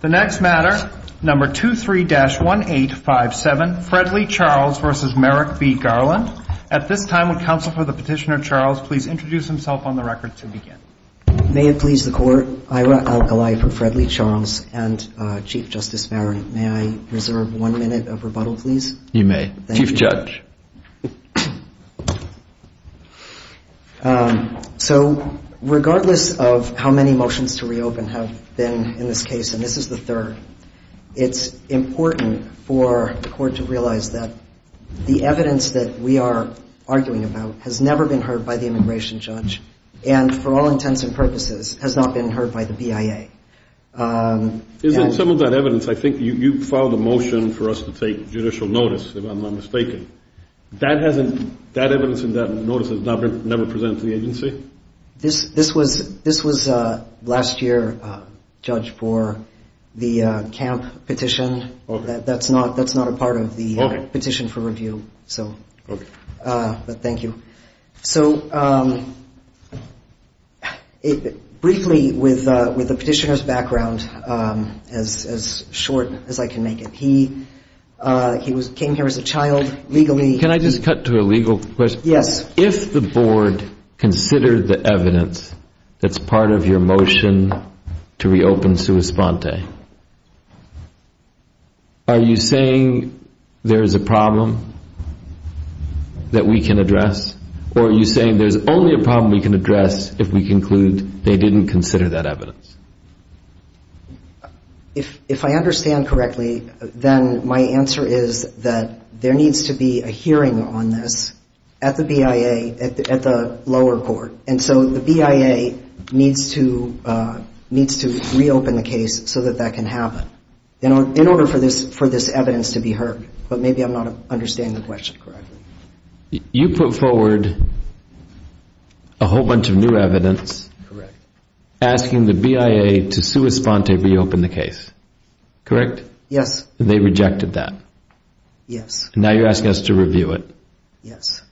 The next matter, number 23-1857, Fred Lee Charles v. Merrick B. Garland. At this time, would counsel for the Petitioner, Charles, please introduce himself on the record to begin. May it please the Court, Ira L. Golifer, Fred Lee Charles, and Chief Justice Merrick, may I reserve one minute of rebuttal, please? You may. Chief Judge. So, regardless of how many motions to reopen have been in this case, and this is the third, it's important for the Court to realize that the evidence that we are arguing about has never been heard by the immigration judge and, for all intents and purposes, has not been heard by the BIA. Some of that evidence, I think you filed a motion for us to take judicial notice, if I'm not mistaken. That evidence and that notice has never been presented to the agency? This was last year judged for the camp petition. Okay. That's not a part of the petition for review. Okay. But thank you. So, briefly, with the Petitioner's background, as short as I can make it, he came here as a child, legally. Can I just cut to a legal question? Yes. If the Board considered the evidence that's part of your motion to reopen Sua Sponte, are you saying there's a problem that we can address? Or are you saying there's only a problem we can address if we conclude they didn't consider that evidence? If I understand correctly, then my answer is that there needs to be a hearing on this at the BIA, at the lower court. And so the BIA needs to reopen the case so that that can happen, in order for this evidence to be heard. But maybe I'm not understanding the question correctly. You put forward a whole bunch of new evidence asking the BIA to Sua Sponte reopen the case, correct? Yes. And they rejected that? Yes. And now you're asking us to review it? Yes.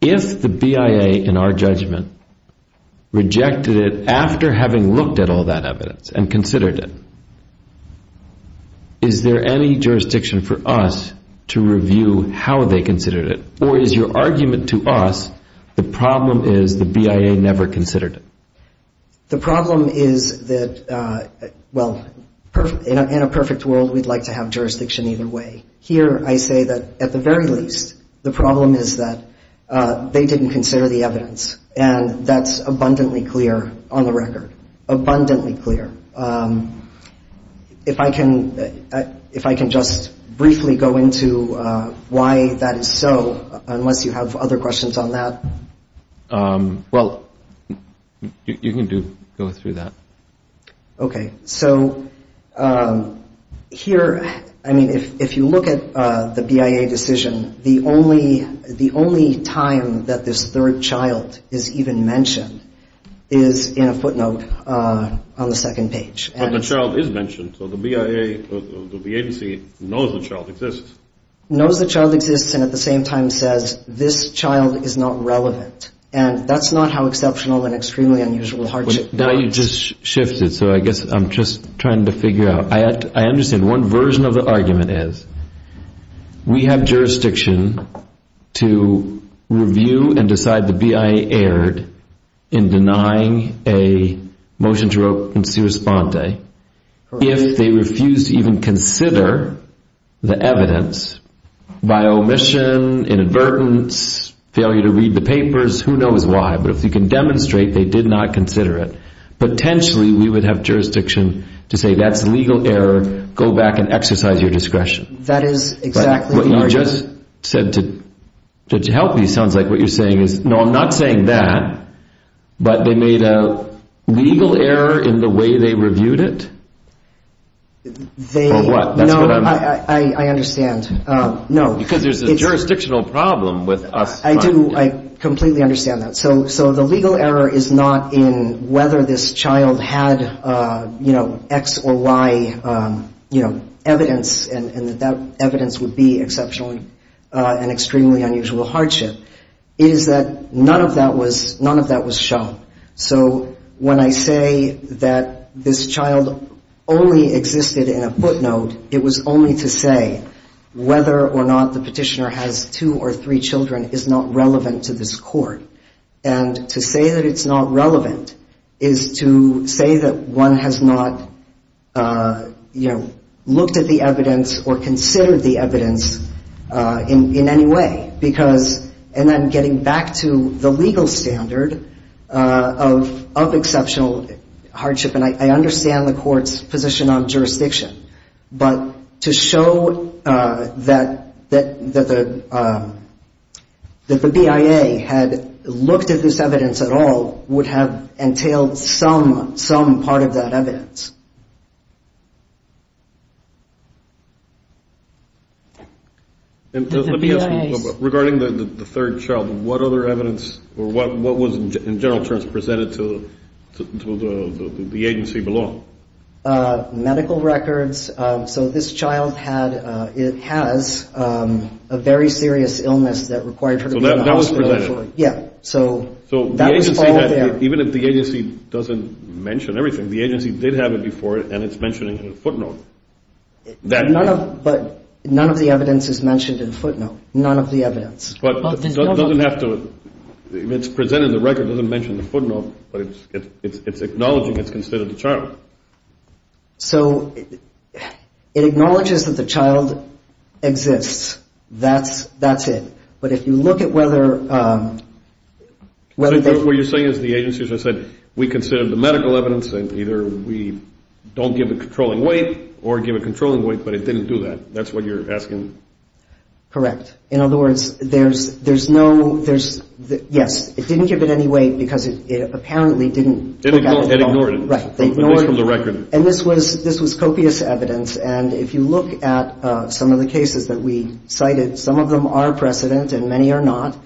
If the BIA, in our judgment, rejected it after having looked at all that evidence and considered it, is there any jurisdiction for us to review how they considered it? Or is your argument to us the problem is the BIA never considered it? The problem is that, well, in a perfect world, we'd like to have jurisdiction either way. Here I say that, at the very least, the problem is that they didn't consider the evidence, and that's abundantly clear on the record, abundantly clear. If I can just briefly go into why that is so, unless you have other questions on that. Well, you can go through that. Okay. So here, I mean, if you look at the BIA decision, the only time that this third child is even mentioned is in a footnote on the second page. But the child is mentioned, so the BIA or the agency knows the child exists. Knows the child exists and at the same time says, this child is not relevant. And that's not how exceptional and extremely unusual hardship works. Now you just shifted, so I guess I'm just trying to figure out. I understand one version of the argument is we have jurisdiction to review and decide the BIA erred in denying a motion to reopen CIRA-SPONTE if they refuse to even consider the evidence by omission, inadvertence, failure to read the papers, who knows why. But if you can demonstrate they did not consider it, potentially we would have jurisdiction to say, that's legal error, go back and exercise your discretion. That is exactly right. What you just said to help me sounds like what you're saying is, no, I'm not saying that, but they made a legal error in the way they reviewed it. Or what? No, I understand. Because there's a jurisdictional problem with us funding it. I do. I completely understand that. So the legal error is not in whether this child had, you know, X or Y, you know, evidence and that that evidence would be exceptional and extremely unusual hardship. It is that none of that was shown. So when I say that this child only existed in a footnote, it was only to say whether or not the petitioner has two or three children is not relevant to this court. And to say that it's not relevant is to say that one has not, you know, looked at the evidence or considered the evidence in any way. Because, and then getting back to the legal standard of exceptional hardship, and I understand the court's position on jurisdiction, but to show that the BIA had looked at this evidence at all would have entailed some part of that evidence. Regarding the third child, what other evidence or what was in general terms presented to the agency below? Medical records. So this child had, it has a very serious illness that required her to be in the hospital. So that was presented? Yeah. So that was all there. So the agency, even if the agency doesn't mention everything, the agency did have it before and it's mentioned in the footnote. But none of the evidence is mentioned in the footnote. None of the evidence. But it doesn't have to, if it's presented in the record, it doesn't mention the footnote, but it's acknowledging it's considered the child. So it acknowledges that the child exists. That's it. But if you look at whether they- So what you're saying is the agency, as I said, we considered the medical evidence and either we don't give a controlling weight or give a controlling weight, but it didn't do that. That's what you're asking? Correct. In other words, there's no, yes, it didn't give it any weight because it apparently didn't- It ignored it. Right. They ignored it. At least from the record. And this was copious evidence. And if you look at some of the cases that we cited, some of them are precedent and many are not.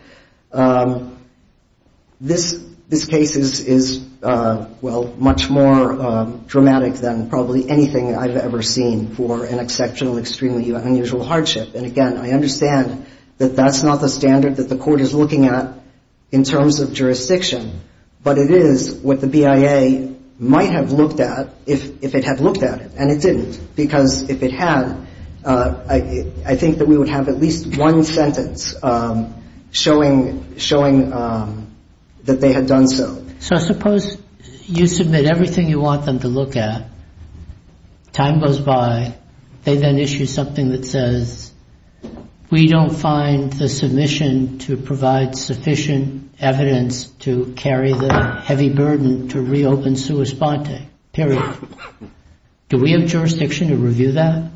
This case is, well, much more dramatic than probably anything I've ever seen for an exceptional, extremely unusual hardship. And, again, I understand that that's not the standard that the Court is looking at in terms of jurisdiction, but it is what the BIA might have looked at if it had looked at it. And it didn't. Because if it had, I think that we would have at least one sentence showing that they had done so. So suppose you submit everything you want them to look at, time goes by, they then issue something that says, we don't find the submission to provide sufficient evidence to carry the heavy burden to reopen sua sponte, period. Do we have jurisdiction to review that?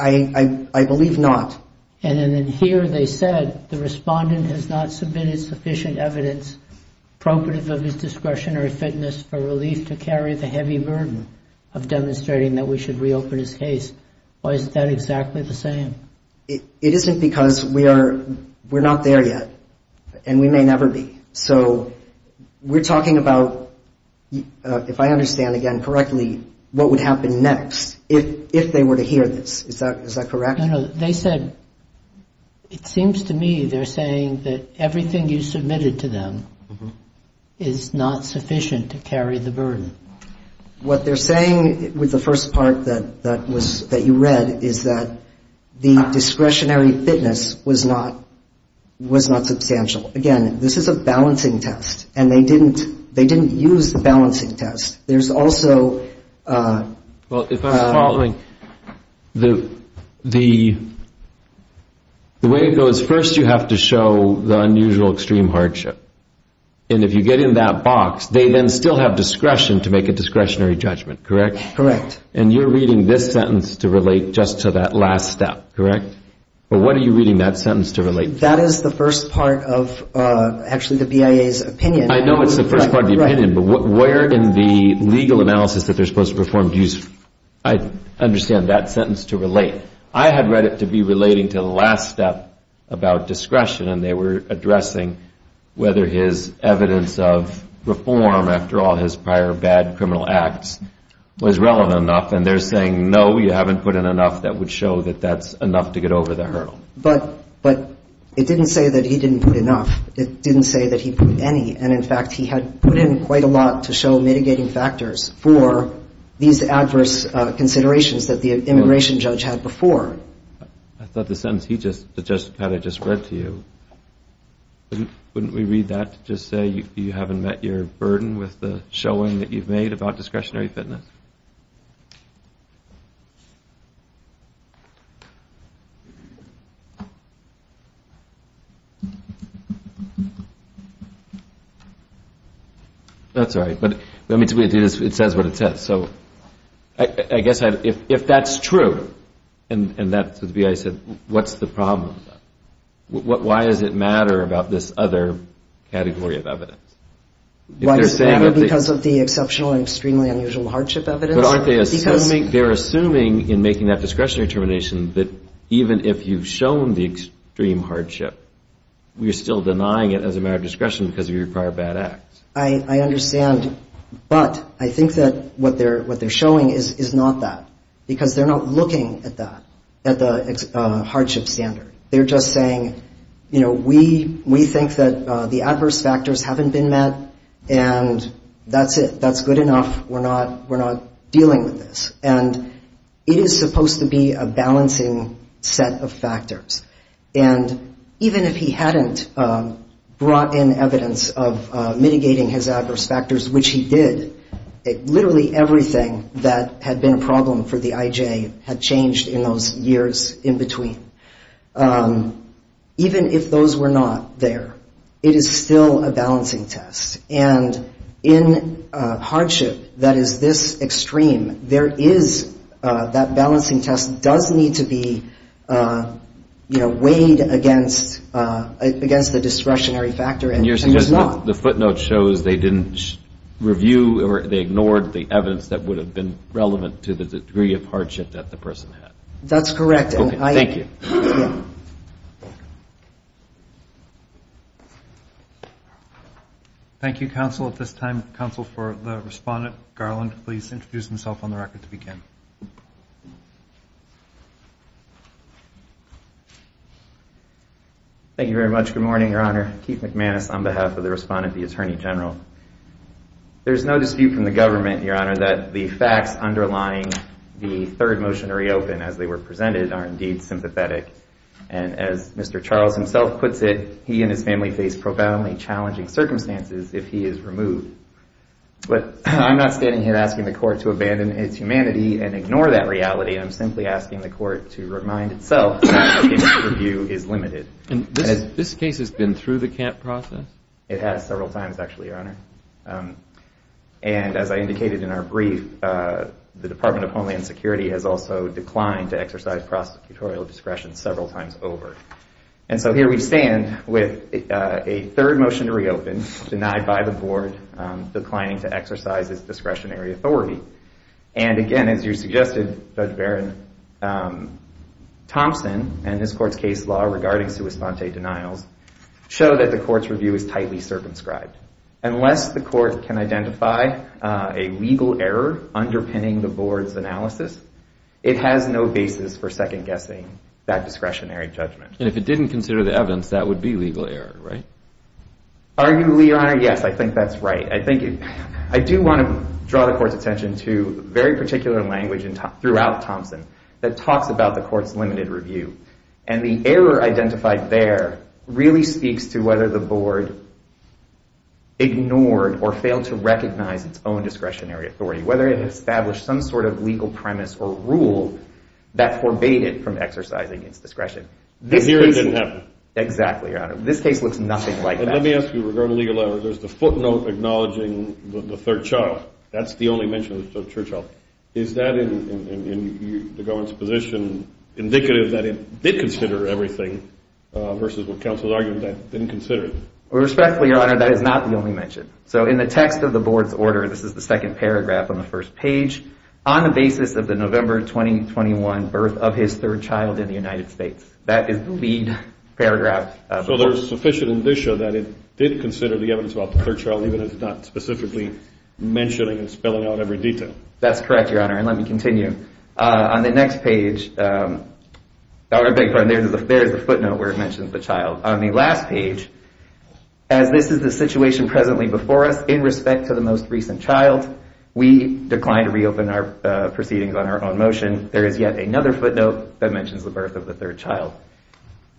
I believe not. And then here they said, the respondent has not submitted sufficient evidence appropriate of his discretionary fitness for relief to carry the heavy burden of demonstrating that we should reopen his case. Why is that exactly the same? It isn't because we're not there yet. And we may never be. So we're talking about, if I understand again correctly, what would happen next if they were to hear this. Is that correct? No, no. They said, it seems to me they're saying that everything you submitted to them is not sufficient to carry the burden. What they're saying with the first part that you read is that the discretionary fitness was not substantial. Again, this is a balancing test. And they didn't use the balancing test. There's also... Well, if I'm following, the way it goes, first you have to show the unusual extreme hardship. And if you get in that box, they then still have discretion to make a discretionary judgment, correct? Correct. And you're reading this sentence to relate just to that last step, correct? Or what are you reading that sentence to relate to? That is the first part of actually the BIA's opinion. I know it's the first part of the opinion. But where in the legal analysis that they're supposed to perform do you understand that sentence to relate? I had read it to be relating to the last step about discretion. And they were addressing whether his evidence of reform, after all his prior bad criminal acts, was relevant enough. And they're saying, no, you haven't put in enough that would show that that's enough to get over the hurdle. But it didn't say that he didn't put enough. It didn't say that he put any. And, in fact, he had put in quite a lot to show mitigating factors for these adverse considerations that the immigration judge had before. I thought the sentence he just had, I just read to you, wouldn't we read that to just say you haven't met your burden with the showing that you've made about discretionary fitness? That's all right. But it says what it says. So I guess if that's true and that's what the BIA said, what's the problem? Why does it matter about this other category of evidence? Why does it matter because of the exceptional and extremely unusual hardship evidence? They're assuming in making that discretionary determination that even if you've shown the extreme hardship, you're still denying it as a matter of discretion because of your prior bad acts. I understand. But I think that what they're showing is not that because they're not looking at that, at the hardship standard. They're just saying, you know, we think that the adverse factors haven't been met and that's it. That's good enough. We're not dealing with this. And it is supposed to be a balancing set of factors. And even if he hadn't brought in evidence of mitigating his adverse factors, which he did, literally everything that had been a problem for the IJ had changed in those years in between. Even if those were not there, it is still a balancing test. And in hardship that is this extreme, there is that balancing test does need to be, you know, weighed against the discretionary factor and it's not. The footnote shows they didn't review or they ignored the evidence that would have been relevant to the degree of hardship that the person had. That's correct. Thank you. Thank you. Thank you, counsel. At this time, counsel for the respondent, Garland, please introduce himself on the record to begin. Thank you very much. Good morning, Your Honor. Keith McManus on behalf of the respondent, the Attorney General. There's no dispute from the government, Your Honor, that the facts underlying the third motion to reopen as they were presented are indeed sympathetic. And as Mr. Charles himself puts it, he and his family face profoundly challenging circumstances if he is removed. But I'm not standing here asking the court to abandon its humanity and ignore that reality. I'm simply asking the court to remind itself that review is limited. And this case has been through the camp process? It has several times actually, Your Honor. And as I indicated in our brief, the Department of Homeland Security has also declined to exercise prosecutorial discretion several times over. And so here we stand with a third motion to reopen denied by the board, declining to exercise its discretionary authority. And again, as you suggested, Judge Barron, Thompson and this court's case law regarding sua sponte denials show that the court's review is tightly circumscribed. Unless the court can identify a legal error underpinning the board's analysis, it has no basis for second-guessing that discretionary judgment. And if it didn't consider the evidence, that would be legal error, right? Arguably, Your Honor, yes, I think that's right. I do want to draw the court's attention to a very particular language throughout Thompson that talks about the court's limited review. And the error identified there really speaks to whether the board ignored or failed to recognize its own discretionary authority, whether it had established some sort of legal premise or rule that forbade it from exercising its discretion. Here it didn't happen. Exactly, Your Honor. This case looks nothing like that. And let me ask you, regarding legal error, there's the footnote acknowledging the third child. That's the only mention of the third child. Is that, in the government's position, indicative that it did consider everything versus what counsel is arguing that it didn't consider it? Respectfully, Your Honor, that is not the only mention. So in the text of the board's order, this is the second paragraph on the first page, on the basis of the November 2021 birth of his third child in the United States. That is the lead paragraph. So there's sufficient indicia that it did consider the evidence about the third child, even if it's not specifically mentioning and spelling out every detail. That's correct, Your Honor, and let me continue. On the next page, there's the footnote where it mentions the child. On the last page, as this is the situation presently before us, in respect to the most recent child, we decline to reopen our proceedings on our own motion. There is yet another footnote that mentions the birth of the third child.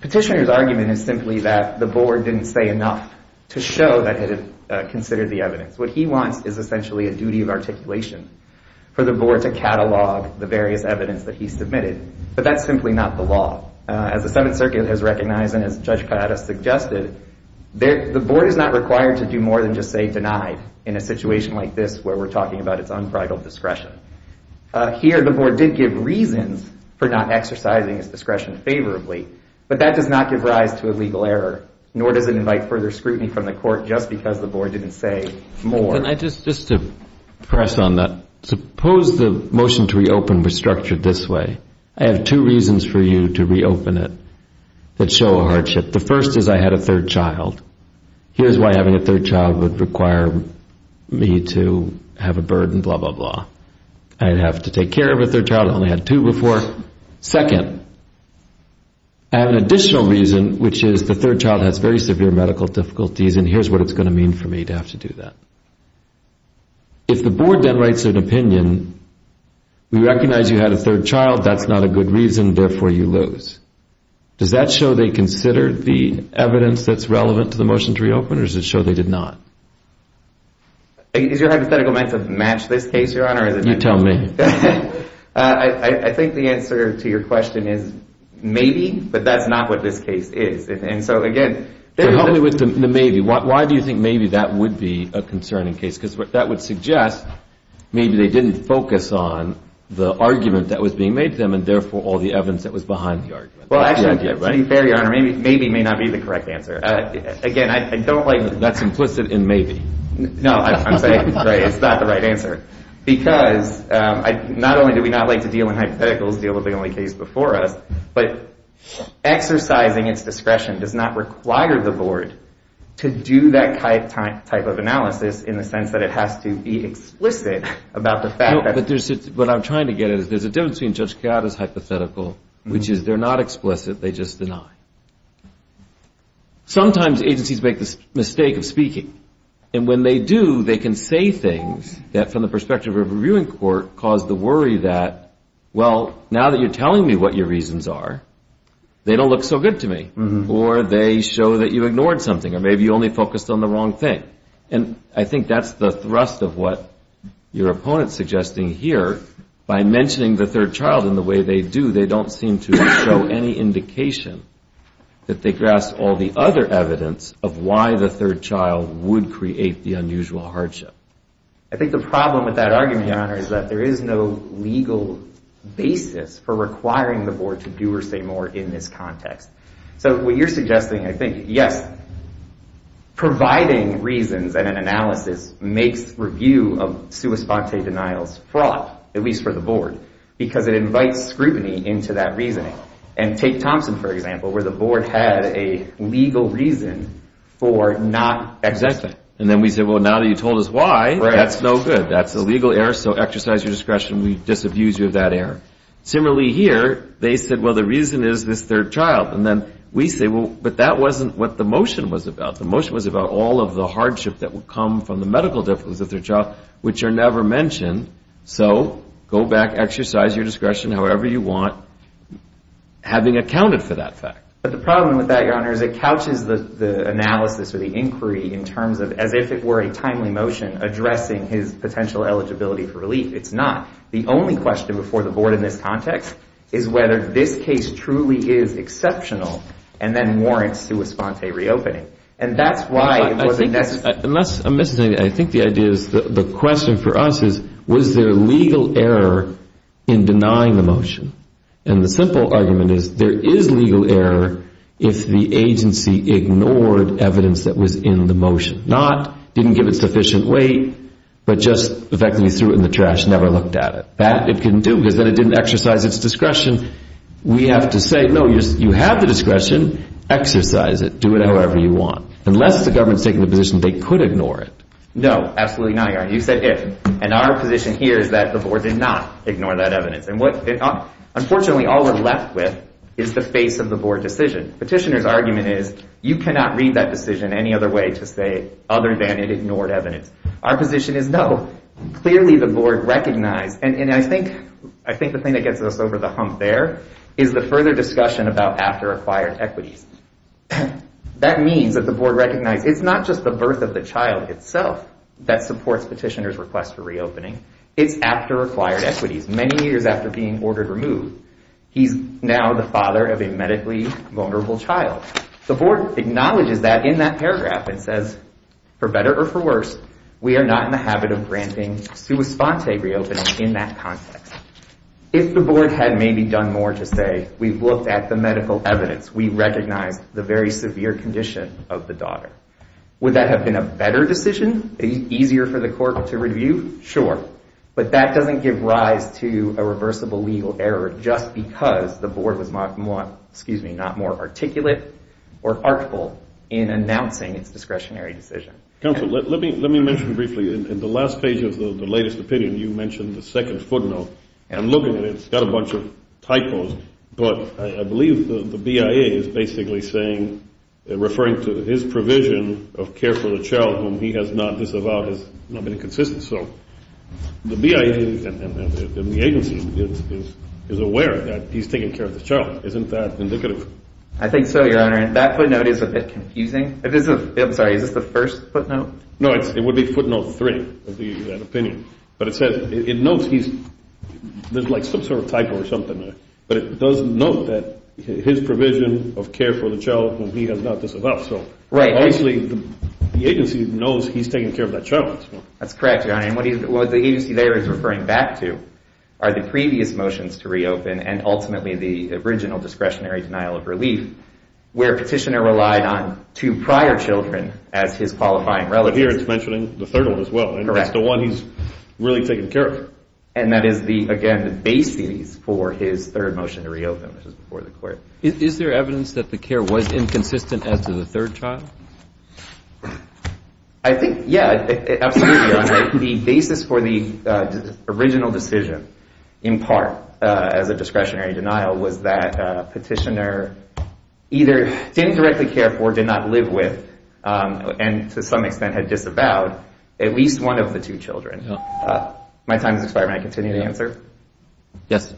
Petitioner's argument is simply that the board didn't say enough to show that it had considered the evidence. What he wants is essentially a duty of articulation for the board to catalog the various evidence that he submitted, but that's simply not the law. As the Seventh Circuit has recognized and as Judge Ciotta suggested, the board is not required to do more than just say denied in a situation like this where we're talking about its unbridled discretion. Here, the board did give reasons for not exercising its discretion favorably, but that does not give rise to a legal error, nor does it invite further scrutiny from the court just because the board didn't say more. Can I just press on that? Suppose the motion to reopen was structured this way. I have two reasons for you to reopen it that show a hardship. The first is I had a third child. Here's why having a third child would require me to have a burden, blah, blah, blah. I'd have to take care of a third child. I only had two before. Second, I have an additional reason, which is the third child has very severe medical difficulties, and here's what it's going to mean for me to have to do that. If the board then writes an opinion, we recognize you had a third child, that's not a good reason, therefore you lose. Does that show they considered the evidence that's relevant to the motion to reopen, or does it show they did not? Is your hypothetical meant to match this case, Your Honor? You tell me. I think the answer to your question is maybe, but that's not what this case is. Help me with the maybe. Why do you think maybe that would be a concerning case? Because that would suggest maybe they didn't focus on the argument that was being made to them and therefore all the evidence that was behind the argument. To be fair, Your Honor, maybe may not be the correct answer. That's implicit in maybe. No, I'm saying it's not the right answer. Because not only do we not like to deal in hypotheticals, deal with the only case before us, but exercising its discretion does not require the board to do that type of analysis in the sense that it has to be explicit about the fact that... What I'm trying to get at is there's a difference between Judge Chiara's hypothetical, which is they're not explicit, they just deny. Sometimes agencies make the mistake of speaking, and when they do, they can say things that, from the perspective of a reviewing court, cause the worry that, well, now that you're telling me what your reasons are, they don't look so good to me. Or they show that you ignored something, or maybe you only focused on the wrong thing. And I think that's the thrust of what your opponent's suggesting here. By mentioning the third child in the way they do, they don't seem to show any indication that they grasp all the other evidence of why the third child would create the unusual hardship. I think the problem with that argument, Your Honor, is that there is no legal basis for requiring the board to do or say more in this context. So what you're suggesting, I think, yes, providing reasons and an analysis makes review of sua sponte denials fraught, at least for the board, because it invites scrutiny into that reasoning. And take Thompson, for example, where the board had a legal reason for not exercising. Exactly. And then we say, well, now that you told us why, that's no good. That's a legal error, so exercise your discretion. We disabuse you of that error. Similarly here, they said, well, the reason is this third child. And then we say, well, but that wasn't what the motion was about. The motion was about all of the hardship that would come from the medical difficulties of the third child, which are never mentioned. So go back, exercise your discretion however you want, having accounted for that fact. But the problem with that, Your Honor, is it couches the analysis or the inquiry in terms of as if it were a timely motion addressing his potential eligibility for relief. It's not. The only question before the board in this context is whether this case truly is exceptional and then warrants sua sponte reopening. I think the question for us is, was there legal error in denying the motion? And the simple argument is there is legal error if the agency ignored evidence that was in the motion. Not didn't give it sufficient weight, but just effectively threw it in the trash and never looked at it. That it couldn't do because then it didn't exercise its discretion. We have to say, no, you have the discretion, exercise it, do it however you want. Unless the government's taking the position they could ignore it. No, absolutely not, Your Honor. You said if. And our position here is that the board did not ignore that evidence. And what, unfortunately, all we're left with is the face of the board decision. Petitioner's argument is you cannot read that decision any other way to say other than it ignored evidence. Our position is no. Clearly the board recognized. And I think I think the thing that gets us over the hump there is the further discussion about after acquired equities. That means that the board recognizes it's not just the birth of the child itself that supports petitioner's request for reopening. It's after acquired equities, many years after being ordered removed. He's now the father of a medically vulnerable child. The board acknowledges that in that paragraph. It says, for better or for worse, we are not in the habit of granting sua sponte reopening in that context. If the board had maybe done more to say, we've looked at the medical evidence. We recognize the very severe condition of the daughter. Would that have been a better decision, easier for the court to review? Sure. But that doesn't give rise to a reversible legal error. Just because the board was not more, excuse me, not more articulate or artful in announcing its discretionary decision. Let me let me mention briefly in the last page of the latest opinion, you mentioned the second footnote. I'm looking at it. It's got a bunch of typos. But I believe the BIA is basically saying they're referring to his provision of care for the child whom he has not disavowed. So the BIA and the agency is aware that he's taking care of the child. Isn't that indicative? I think so, Your Honor. And that footnote is a bit confusing. I'm sorry, is this the first footnote? No, it would be footnote three of the opinion. But it says it notes he's there's like some sort of typo or something. But it does note that his provision of care for the child whom he has not disavowed. Right. Obviously, the agency knows he's taking care of that child. That's correct, Your Honor. And what the agency there is referring back to are the previous motions to reopen and ultimately the original discretionary denial of relief, where petitioner relied on two prior children as his qualifying relatives. But here it's mentioning the third one as well. Correct. It's the one he's really taking care of. And that is the, again, the basis for his third motion to reopen, which is before the court. Is there evidence that the care was inconsistent as to the third child? I think, yeah, absolutely, Your Honor. The basis for the original decision in part as a discretionary denial was that petitioner either didn't directly care for, did not live with, and to some extent had disavowed at least one of the two children. My time has expired. May I continue to answer? Yes.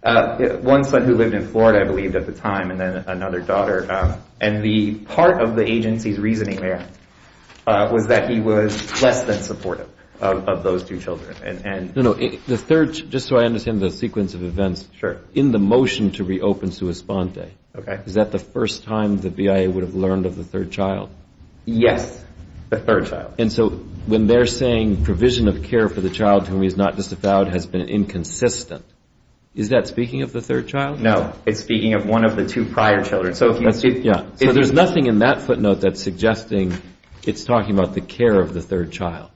One son who lived in Florida, I believe, at the time, and then another daughter. And the part of the agency's reasoning there was that he was less than supportive of those two children. No, no. The third, just so I understand the sequence of events. Sure. In the motion to reopen Sua Sponte. Okay. Is that the first time the BIA would have learned of the third child? Yes, the third child. And so when they're saying provision of care for the child whom he has not disavowed has been inconsistent, is that speaking of the third child? No. It's speaking of one of the two prior children. Yeah. So there's nothing in that footnote that's suggesting it's talking about the care of the third child.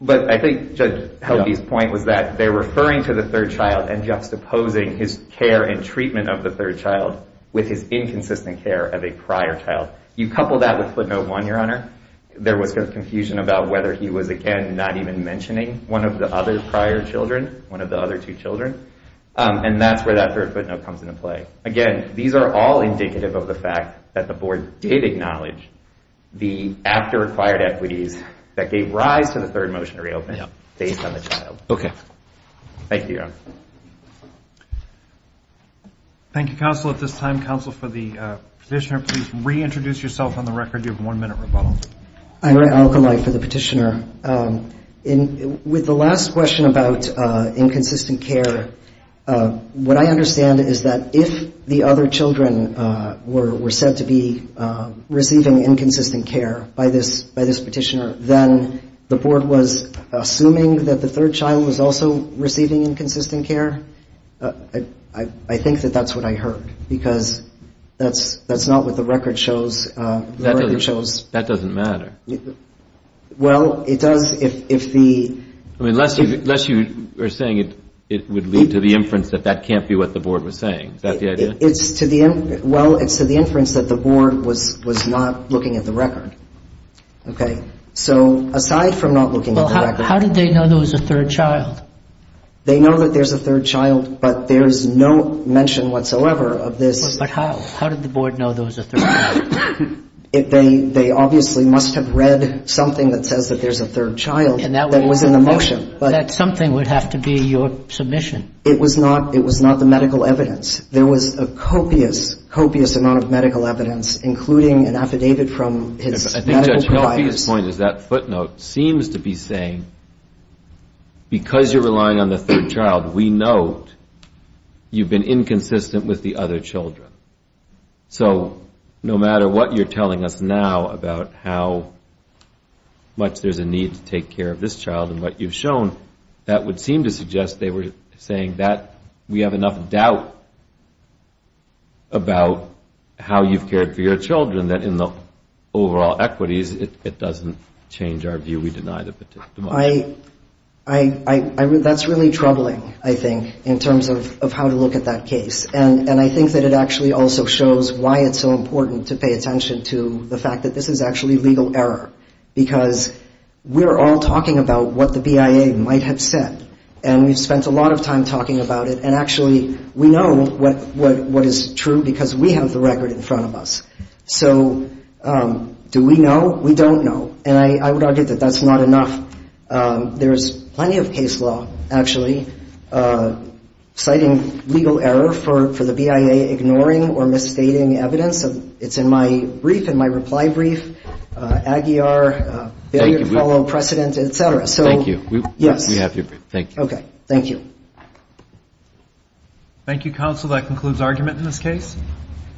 But I think Judge Helvey's point was that they're referring to the third child and juxtaposing his care and treatment of the third child with his inconsistent care of a prior child. You couple that with footnote one, Your Honor. There was confusion about whether he was, again, not even mentioning one of the other prior children, one of the other two children. And that's where that third footnote comes into play. Again, these are all indicative of the fact that the board did acknowledge the after-acquired equities that gave rise to the third motion to reopen based on the child. Okay. Thank you, Your Honor. Thank you, counsel. At this time, counsel, for the petitioner, please reintroduce yourself on the record. I'm going to give you a one-minute rebuttal. I'm Ray Alkali for the petitioner. With the last question about inconsistent care, what I understand is that if the other children were said to be receiving inconsistent care by this petitioner, then the board was assuming that the third child was also receiving inconsistent care? I think that that's what I heard, because that's not what the record shows. That doesn't matter. Well, it does if the... Unless you are saying it would lead to the inference that that can't be what the board was saying. Is that the idea? Well, it's to the inference that the board was not looking at the record. Okay. So aside from not looking at the record... Well, how did they know there was a third child? They know that there's a third child, but there's no mention whatsoever of this. But how? How did the board know there was a third child? They obviously must have read something that says that there's a third child that was in the motion. That something would have to be your submission. It was not the medical evidence. There was a copious, copious amount of medical evidence, including an affidavit from his medical providers. My point is that footnote seems to be saying, because you're relying on the third child, we know you've been inconsistent with the other children. So no matter what you're telling us now about how much there's a need to take care of this child and what you've shown, that would seem to suggest they were saying that we have enough doubt about how you've cared for your children, that in the overall equities, it doesn't change our view we deny the particular motion. That's really troubling, I think, in terms of how to look at that case. And I think that it actually also shows why it's so important to pay attention to the fact that this is actually legal error, because we're all talking about what the BIA might have said. And we've spent a lot of time talking about it. And actually, we know what is true because we have the record in front of us. So do we know? We don't know. And I would argue that that's not enough. There is plenty of case law, actually, citing legal error for the BIA ignoring or misstating evidence. It's in my brief, in my reply brief, Aguiar, failure to follow precedent, et cetera. Thank you. Yes. We have your brief. Thank you. Okay. Thank you. Thank you, counsel. That concludes argument in this case.